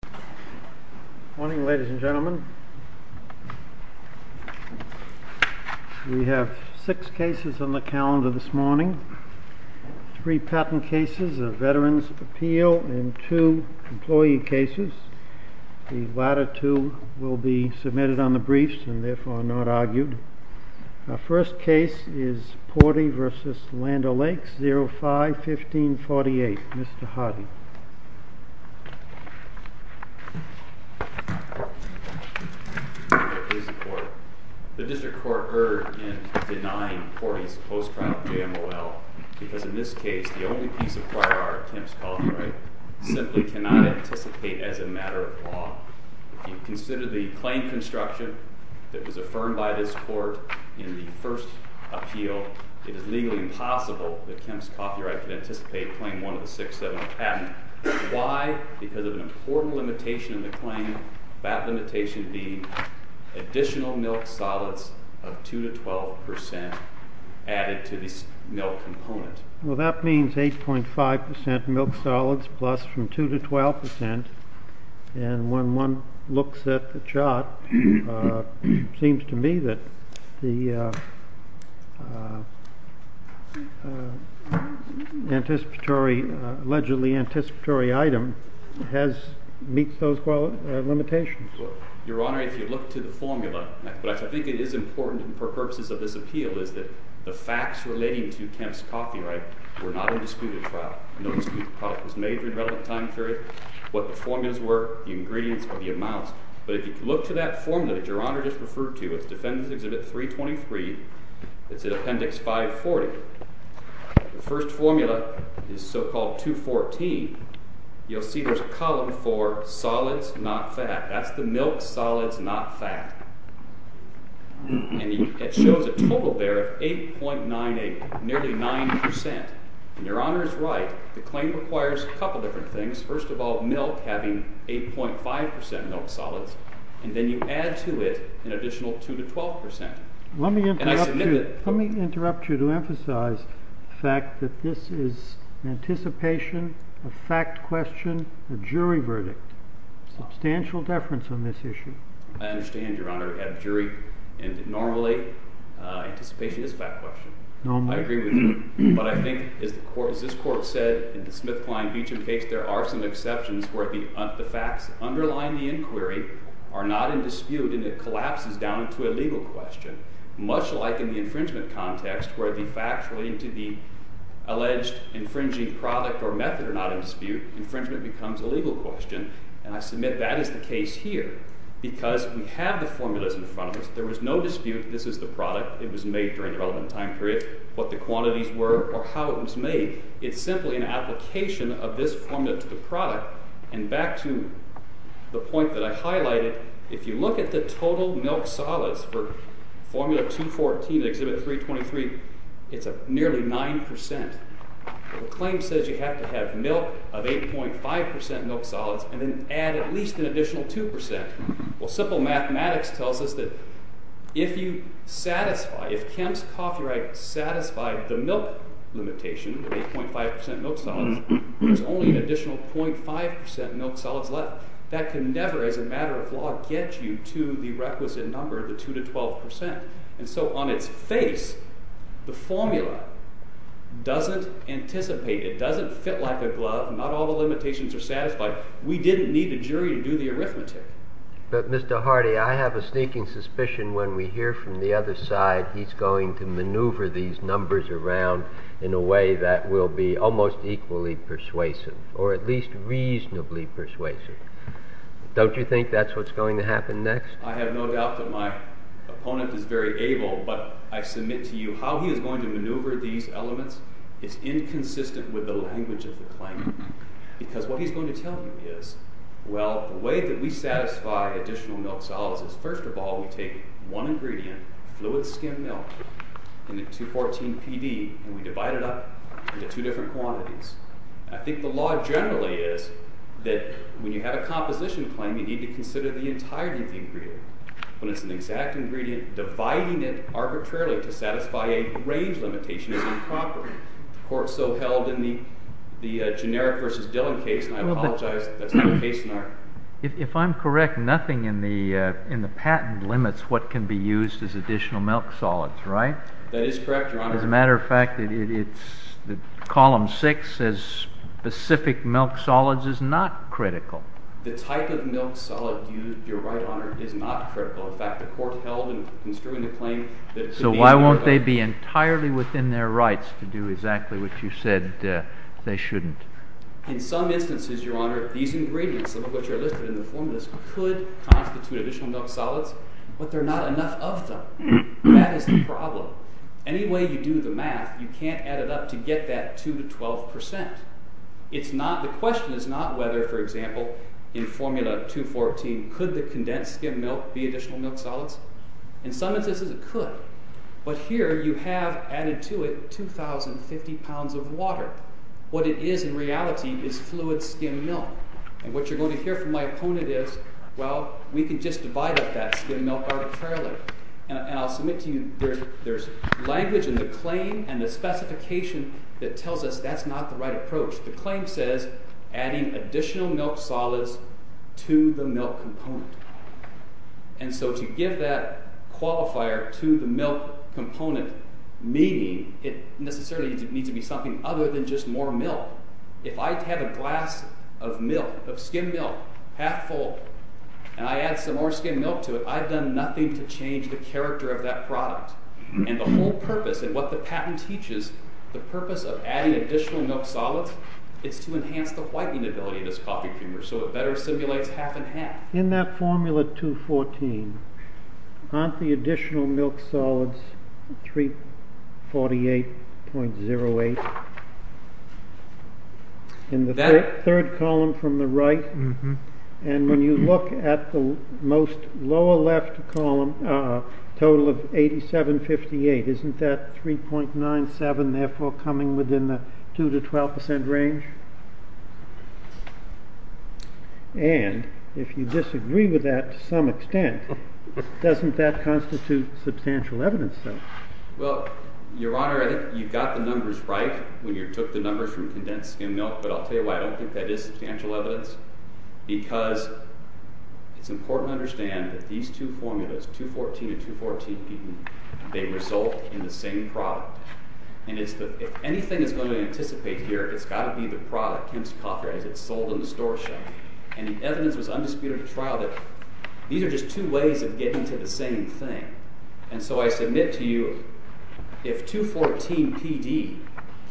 Good morning ladies and gentlemen. We have six cases on the calendar this morning. Three patent cases of Veterans' Appeal and two employee cases. The latter two will be submitted on the briefs and therefore not argued. Our first case is Pordy v. Land O' Lakes, 05-1548. Mr. Hardy. Thank you, Your Honor. The District Court erred in denying Pordy's post-crime JMOL because in this case the only piece of prior art, Kemp's copyright, simply cannot anticipate as a matter of law. If you consider the claim construction that was affirmed by this Court in the first appeal, it is legally impossible that Kemp's copyright could anticipate Claim 1 of the 670 patent. Why? Because of an important limitation in the claim, that limitation being additional milk solids of 2-12% added to the milk component. Well, that means 8.5% milk solids plus from 2-12%, seems to me that the allegedly anticipatory item meets those limitations. Your Honor, if you look to the formula, what I think is important for purposes of this appeal is that the facts relating to Kemp's copyright were not a disputed product. No disputed product was made in a relevant time period. What the formulas were, the ingredients, or the amounts, but if you look to that formula that Your Honor just referred to, it's Defendant's Exhibit 323, it's in Appendix 540. The first formula is so-called 214. You'll see there's a column for solids, not fat. That's the milk solids, not fat. And it shows a total there of 8.98, nearly 9%. And Your Honor is right. The claim requires a couple different things. First of all, milk having 8.5% milk solids, and then you add to it an additional 2-12%. Let me interrupt you to emphasize the fact that this is an anticipation, a fact question, a jury verdict. Substantial deference on this issue. I understand, Your Honor, we have a jury, and normally anticipation is a fact question. I agree with you. But I think, as this Court said in the Smith, Klein, Beecham case, there are some exceptions where the facts underlying the inquiry are not in dispute, and it collapses down into a legal question. Much like in the infringement context, where the facts relating to the alleged infringing product or method are not in dispute, infringement becomes a legal question. And I submit that is the case here, because we have the formulas in front of us. There was no dispute. This is the product. It was made during a relevant time period. There was no dispute over how it was made. It's simply an application of this formula to the product. And back to the point that I highlighted, if you look at the total milk solids for Formula 214 and Exhibit 323, it's nearly 9%. The claim says you have to have milk of 8.5% milk solids, and then add at least an additional 2%. Well, simple mathematics tells us that if you satisfy, if Kemp's copyright satisfied the milk limitation of 8.5% milk solids, there's only an additional 0.5% milk solids left. That can never, as a matter of law, get you to the requisite number, the 2-12%. And so on its face, the formula doesn't anticipate, it doesn't fit like a glove, not all the limitations are satisfied. We didn't need a jury to do the arithmetic. But, Mr. Hardy, I have a sneaking suspicion when we hear from the other side he's going to maneuver these numbers around in a way that will be almost equally persuasive, or at least reasonably persuasive. Don't you think that's what's going to happen next? I have no doubt that my opponent is very able, but I submit to you how he is going to maneuver these elements is inconsistent with the language of the claim. Because what he's going to tell you is, well, the way that we satisfy additional milk solids is, first of all, we take one ingredient, fluid skim milk, in the 2-14 PD, and we divide it up into two different quantities. I think the law generally is that when you have a composition claim, you need to consider the entirety of the ingredient. When it's an exact ingredient, dividing it arbitrarily to satisfy a range limitation is improper. The court so held in the generic versus Dillon case, and I apologize if that's not the case in our… And the patent limits what can be used as additional milk solids, right? That is correct, Your Honor. As a matter of fact, column 6 says specific milk solids is not critical. The type of milk solid used, Your Honor, is not critical. In fact, the court held in construing the claim… So why won't they be entirely within their rights to do exactly what you said they shouldn't? In some instances, Your Honor, these ingredients, some of which are listed in the formulas, could constitute additional milk solids, but there are not enough of them. That is the problem. Any way you do the math, you can't add it up to get that 2 to 12 percent. The question is not whether, for example, in formula 214, could the condensed skim milk be additional milk solids. In some instances, it could, but here you have added to it 2,050 pounds of water. What it is in reality is fluid skim milk, and what you're going to hear from my opponent is well, we can just divide up that skim milk arbitrarily. And I'll submit to you, there's language in the claim and the specification that tells us that's not the right approach. The claim says adding additional milk solids to the milk component. And so to give that qualifier to the milk component, meaning it necessarily needs to be something other than just more milk. If I have a glass of milk, of skim milk, half full, and I add some more skim milk to it, I've done nothing to change the character of that product. And the whole purpose, and what the patent teaches, the purpose of adding additional milk solids is to enhance the whitening ability of this coffee creamer so it better simulates half and half. In that formula 214, aren't the additional milk solids 348.08? And the third column from the right, and when you look at the most lower left column, a total of 8758, isn't that 3.97, therefore coming within the 2 to 12 percent range? And if you disagree with that to some extent, doesn't that constitute substantial evidence? Well, Your Honor, you've got the numbers right. When you took the numbers from condensed skim milk, but I'll tell you why I don't think that is substantial evidence. Because it's important to understand that these two formulas, 214 and 214PD, they result in the same product. And if anything is going to anticipate here, it's got to be the product, Kim's Coffee, as it's sold in the store shop. And the evidence was undisputed at trial that these are just two ways of getting to the same thing. And so I submit to you, if 214PD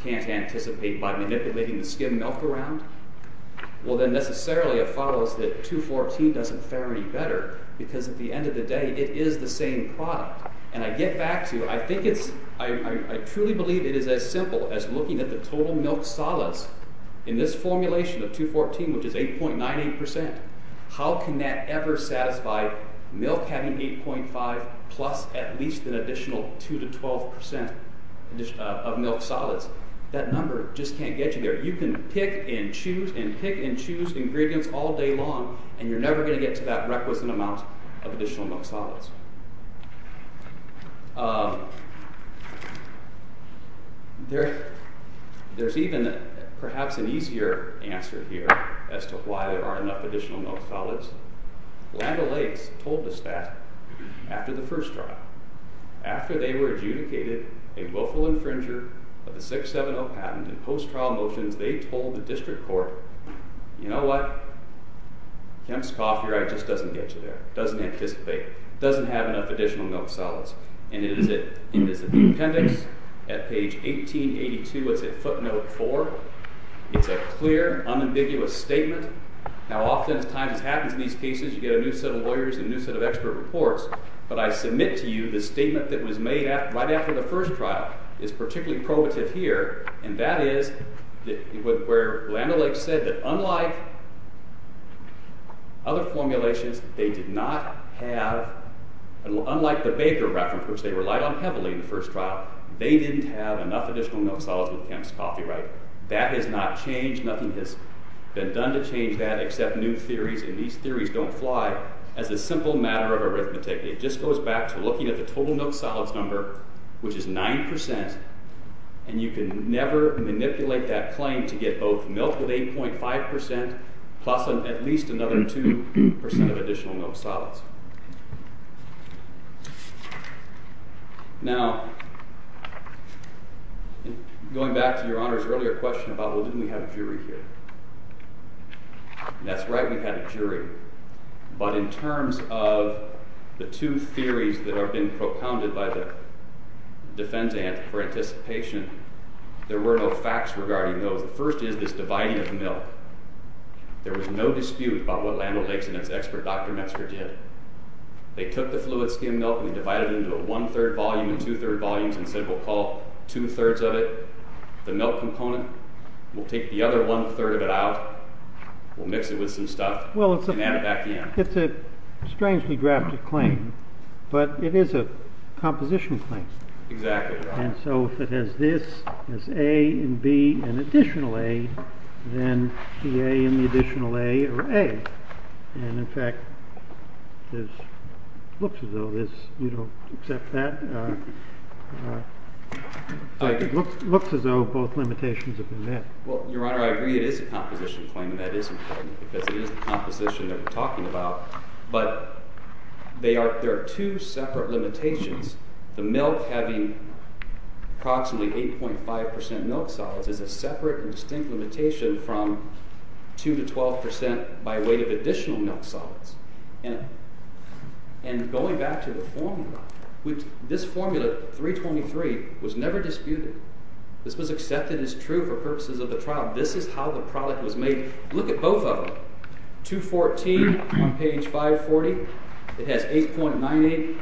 can't anticipate by manipulating the skim milk around, well then necessarily it follows that 214 doesn't fare any better, because at the end of the day, it is the same product. And I get back to, I think it's, I truly believe it is as simple as looking at the total milk solace in this formulation of 214, which is 8.98 percent. How can that ever satisfy milk having 8.5 plus at least an additional 2 to 12 percent? Of milk solids. That number just can't get you there. You can pick and choose, and pick and choose ingredients all day long, and you're never going to get to that requisite amount of additional milk solids. There's even perhaps an easier answer here as to why there aren't enough additional milk solids. Land O'Lakes told us that after the first trial. After they were adjudicated a willful infringer of the 670 patent in post-trial motions, they told the district court, you know what? Kemp's coffee right just doesn't get you there. It doesn't anticipate. It doesn't have enough additional milk solids. And it is at the appendix at page 1882, what's it footnote for? It's a clear, unambiguous statement. Now oftentimes this happens in these cases, you get a new set of lawyers and a new set of expert reports, and usually the statement that was made right after the first trial is particularly probative here, and that is where Land O'Lakes said that unlike other formulations, they did not have, unlike the Baker reference, which they relied on heavily in the first trial, they didn't have enough additional milk solids with Kemp's coffee right. That has not changed. Nothing has been done to change that except new theories, and these theories don't fly with the total milk solids number, which is 9%, and you can never manipulate that claim to get both milk with 8.5% plus at least another 2% of additional milk solids. Now, going back to Your Honor's earlier question about well didn't we have a jury here? That's right, we had a jury. But in terms of the two theories that were recounted by the defense ant for anticipation, there were no facts regarding those. The first is this dividing of milk. There was no dispute about what Land O'Lakes and his expert Dr. Metzger did. They took the fluid skim milk and divided it into a one-third volume and two-third volumes and said we'll call two-thirds of it the milk component, we'll take the other one-third of it out, we'll mix it with some stuff, and add it back in. It's a strangely drafted claim, a composition claim. Exactly, Your Honor. And so if it has this, has A and B and additional A, then the A and the additional A are A. And in fact, it looks as though you don't accept that. It looks as though both limitations have been met. Well, Your Honor, I agree it is a composition claim and that is important because it is the composition that we're talking about, not the limitations. The milk having approximately 8.5% milk solids is a separate and distinct limitation from 2-12% by weight of additional milk solids. And going back to the formula, this formula, 323, was never disputed. This was accepted as true for purposes of the trial. This is how the product was made. Look at both of them. 214 on page 540, it has 8.98%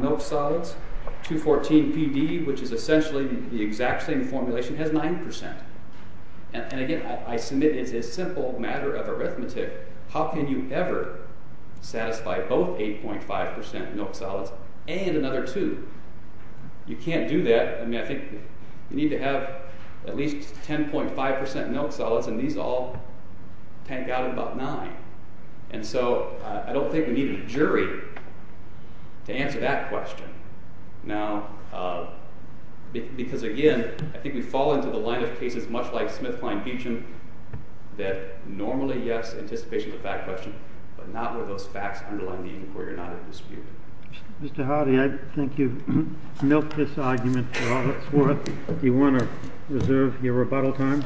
milk solids. 214 PD, which is essentially the exact same formulation, has 9%. And again, I submit it's a simple matter of arithmetic. How can you ever satisfy both 8.5% milk solids and another 2? You can't do that. I mean, I think you need to have at least 10.5% milk solids and these all tank out and so I don't think we need a jury to answer that question. Now, because again, I think we fall into the line of cases much like Smith-Kline-Hugin that normally, yes, anticipation is a fact question, but not where those facts underline the inquiry or dispute. Mr. Hardy, I think you've milked this argument for all it's worth. Do you want to reserve judgment?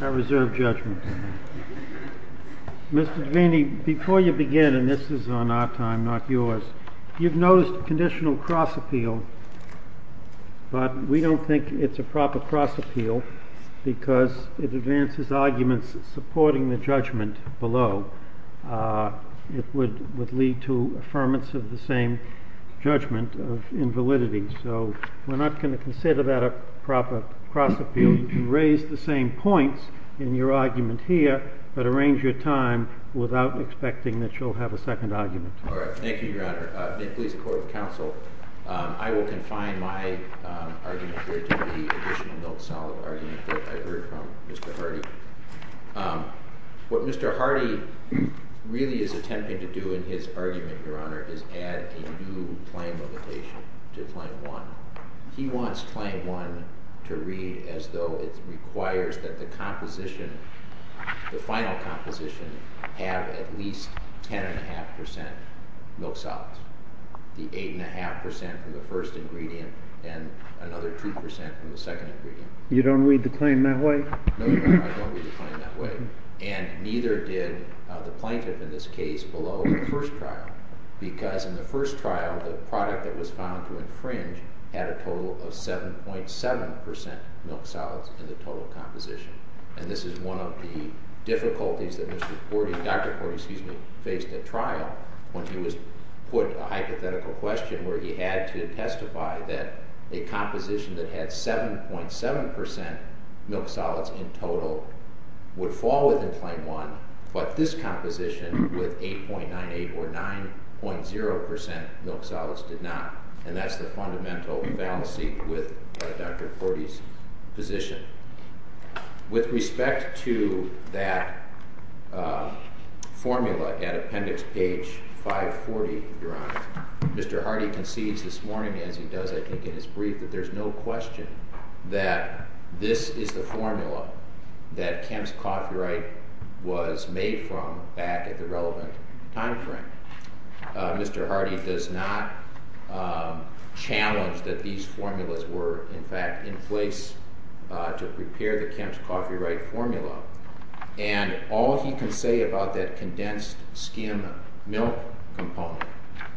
I reserve judgment. Mr. Devaney, before you begin, and this is on our time, not yours, you've noticed conditional cross-appeal, but we don't think it's a proper cross-appeal because it advances arguments supporting the judgment below. It would lead to affirmance of the same judgment of invalidity. So we're not going to consider that a proper cross-appeal. You can raise the same points in your argument here, but arrange your time without expecting that you'll have a second argument. All right. Thank you, Your Honor. May it please the Court of Counsel, I will confine my argument here to the additional note-solid argument that I've heard from Mr. Hardy. What Mr. Hardy really is attempting to do in his argument, Your Honor, is add a new claim limitation to Claim 1. He wants Claim 1 to read as though it requires that the composition, the final composition, have at least 10.5 percent milk solids, the 8.5 percent from the first ingredient, and another 2 percent from the second ingredient. You don't read the claim that way? No, Your Honor, I don't read the claim that way, and neither did the plaintiff in this case below the first trial, because in the first trial, the product that was found to contain 7.7 percent milk solids in the total composition, and this is one of the difficulties that Dr. Hardy faced at trial when he was put a hypothetical question where he had to testify that a composition that had 7.7 percent milk solids in total would Claim 1, but this composition with 8.98 or 9.0 percent milk solids did not, and that's the fundamental fallacy with Dr. Hardy's argument. go back to Dr. Hardy's position. With respect to that formula at appendix page 540, Your Honor, Mr. Hardy concedes this morning, as he does, I think, in his brief, that there's no question that this is the formula that Kemp's Coffee Right was made from back at the relevant time frame. Mr. Hardy does not challenge that these formulas were in fact in place to prepare the Kemp's Coffee Right formula, and all he can say about that condensed skim milk component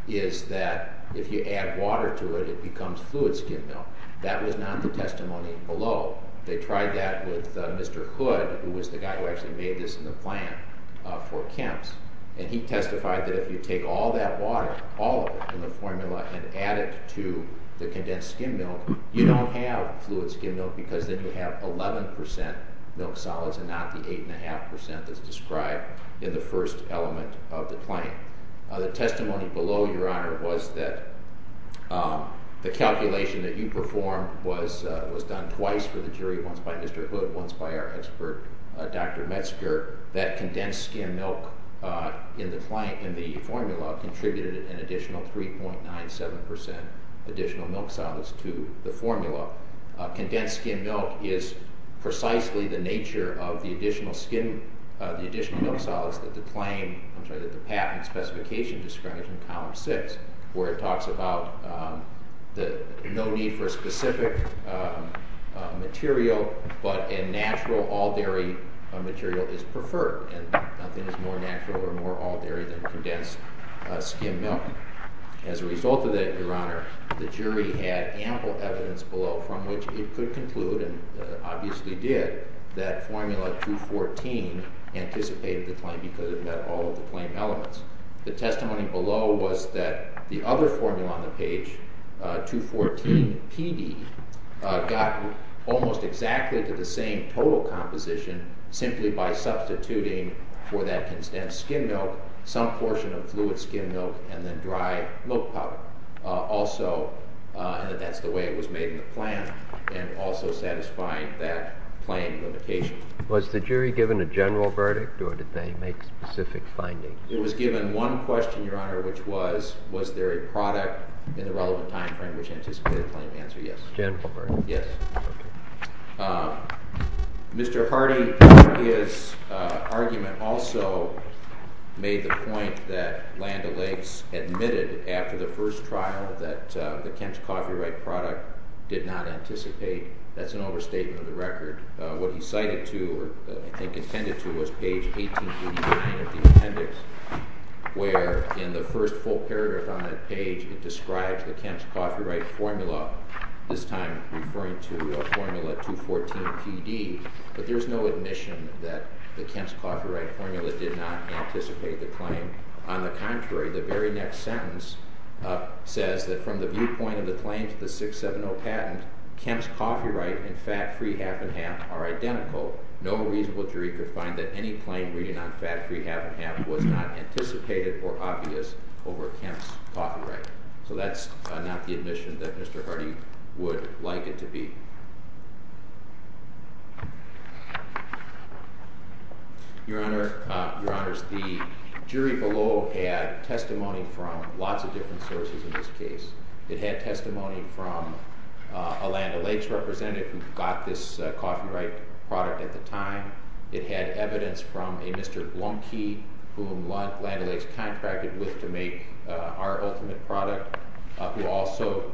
is that if you add water to it, it becomes fluid skim milk. That was not the testimony below. They tried that with Mr. Hood, who was the guy who actually made this in the plan for Kemp's, and he testified that if you take all that out, you don't have fluid skim milk because then you have 11 percent milk solids and not the 8.5 percent that's described in the first element of the plan. The testimony below, Your Honor, was that the calculation that you performed was done twice for the jury, once by Mr. Hood, once by our expert, Dr. Metzger, that condensed skim milk in the formula contributed an additional 3.97 percent additional milk solids to the formula. Condensed skim milk is precisely the nature of the additional skim, the additional milk solids that the patent specification described in column 6, where it talks about no need for specific material, but a natural all-dairy material is preferred, and nothing is more natural or more all-dairy than condensed skim milk. As a result of that, Your Honor, the jury had ample evidence below from which it could conclude, and obviously did, that formula 214 anticipated the claim because it met all of the claim elements. The testimony below was that the other formula on the page, 214 PD, got almost exactly to the same total composition simply by substituting for that condensed skim milk some portion of fluid skim milk and then dry milk powder. Also, that's the way it was made in the plan and also satisfying that claim limitation. Was the jury given a general verdict or did they make specific findings? It was given one question, Your Honor, which was, was there a product in the relevant time frame which anticipated the claim? The answer is yes. Mr. Hardy, his argument also made the point that Landa Lakes admitted after the first trial that the Kemp's Coffee Right product did not anticipate. That's an overstatement of the record. What he cited to or I think intended to was page 1889 of the appendix where in the first full paragraph on this time referring to a formula 214 PD but there's no admission that the Kemp's Coffee Right formula did not anticipate the claim. On the contrary, the very next sentence says that from the viewpoint of the claim to the 670 patent, Kemp's Coffee Right and Fat Free Half and Half are identical. No reasonable jury could find that any claim reading on Fat Free Half and Half was not anticipated or obvious over Kemp's Coffee Right. So that's not the admission that Mr. Hardy would like it to be. Your Honors, the jury below had testimony from lots of different sources in this case. It had testimony from a Landa Lakes representative who got this Coffee Right product at the time. It had evidence from a Mr. Blumkey whom Landa Lakes contracted with to make our ultimate product who also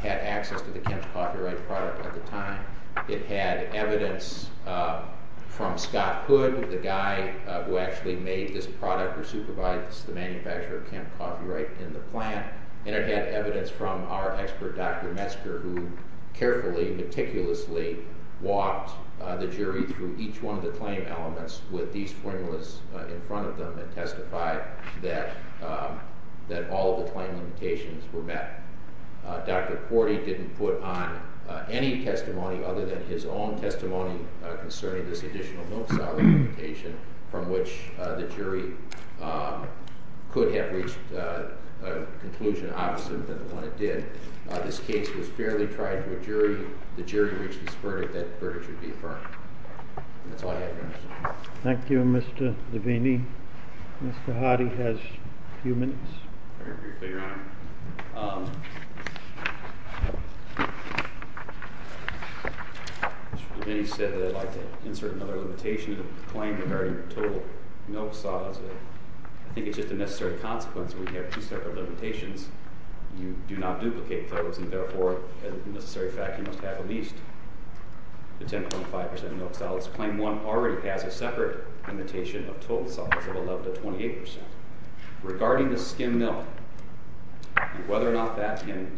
had access to the Kemp's Coffee Right product at the time. It had evidence from Scott Hood, the guy who actually made this product at the time. It had evidence from our expert Dr. Metzger who carefully meticulously walked the jury through each one of the claim elements with these formulas in front of them and testified that all of the claim limitations were met. Dr. Hardy didn't put on any testimony other than his own testimony concerning this additional milk solidification from which the jury could have reached a conclusion opposite than the one it did. This case was fairly tried to a jury. The jury reached this verdict. That verdict should be affirmed. That's all I have. Thank you, Mr. Levine. Mr. Hardy has a few comments. Mr. Levine said that I'd like to insert another limitation claim regarding total milk solids. I think it's just a necessary consequence when you have two separate limitations. You do not duplicate those and therefore the necessary fact you must have at least the 10.5 percent of total milk solids. Claim 1 already has a separate limitation of total solids of 11 to 28 percent. Regarding the skim milk and whether or not that can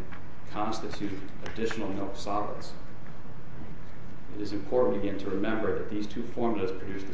constitute additional milk solids, it is important again to remember that these two formulas produce the same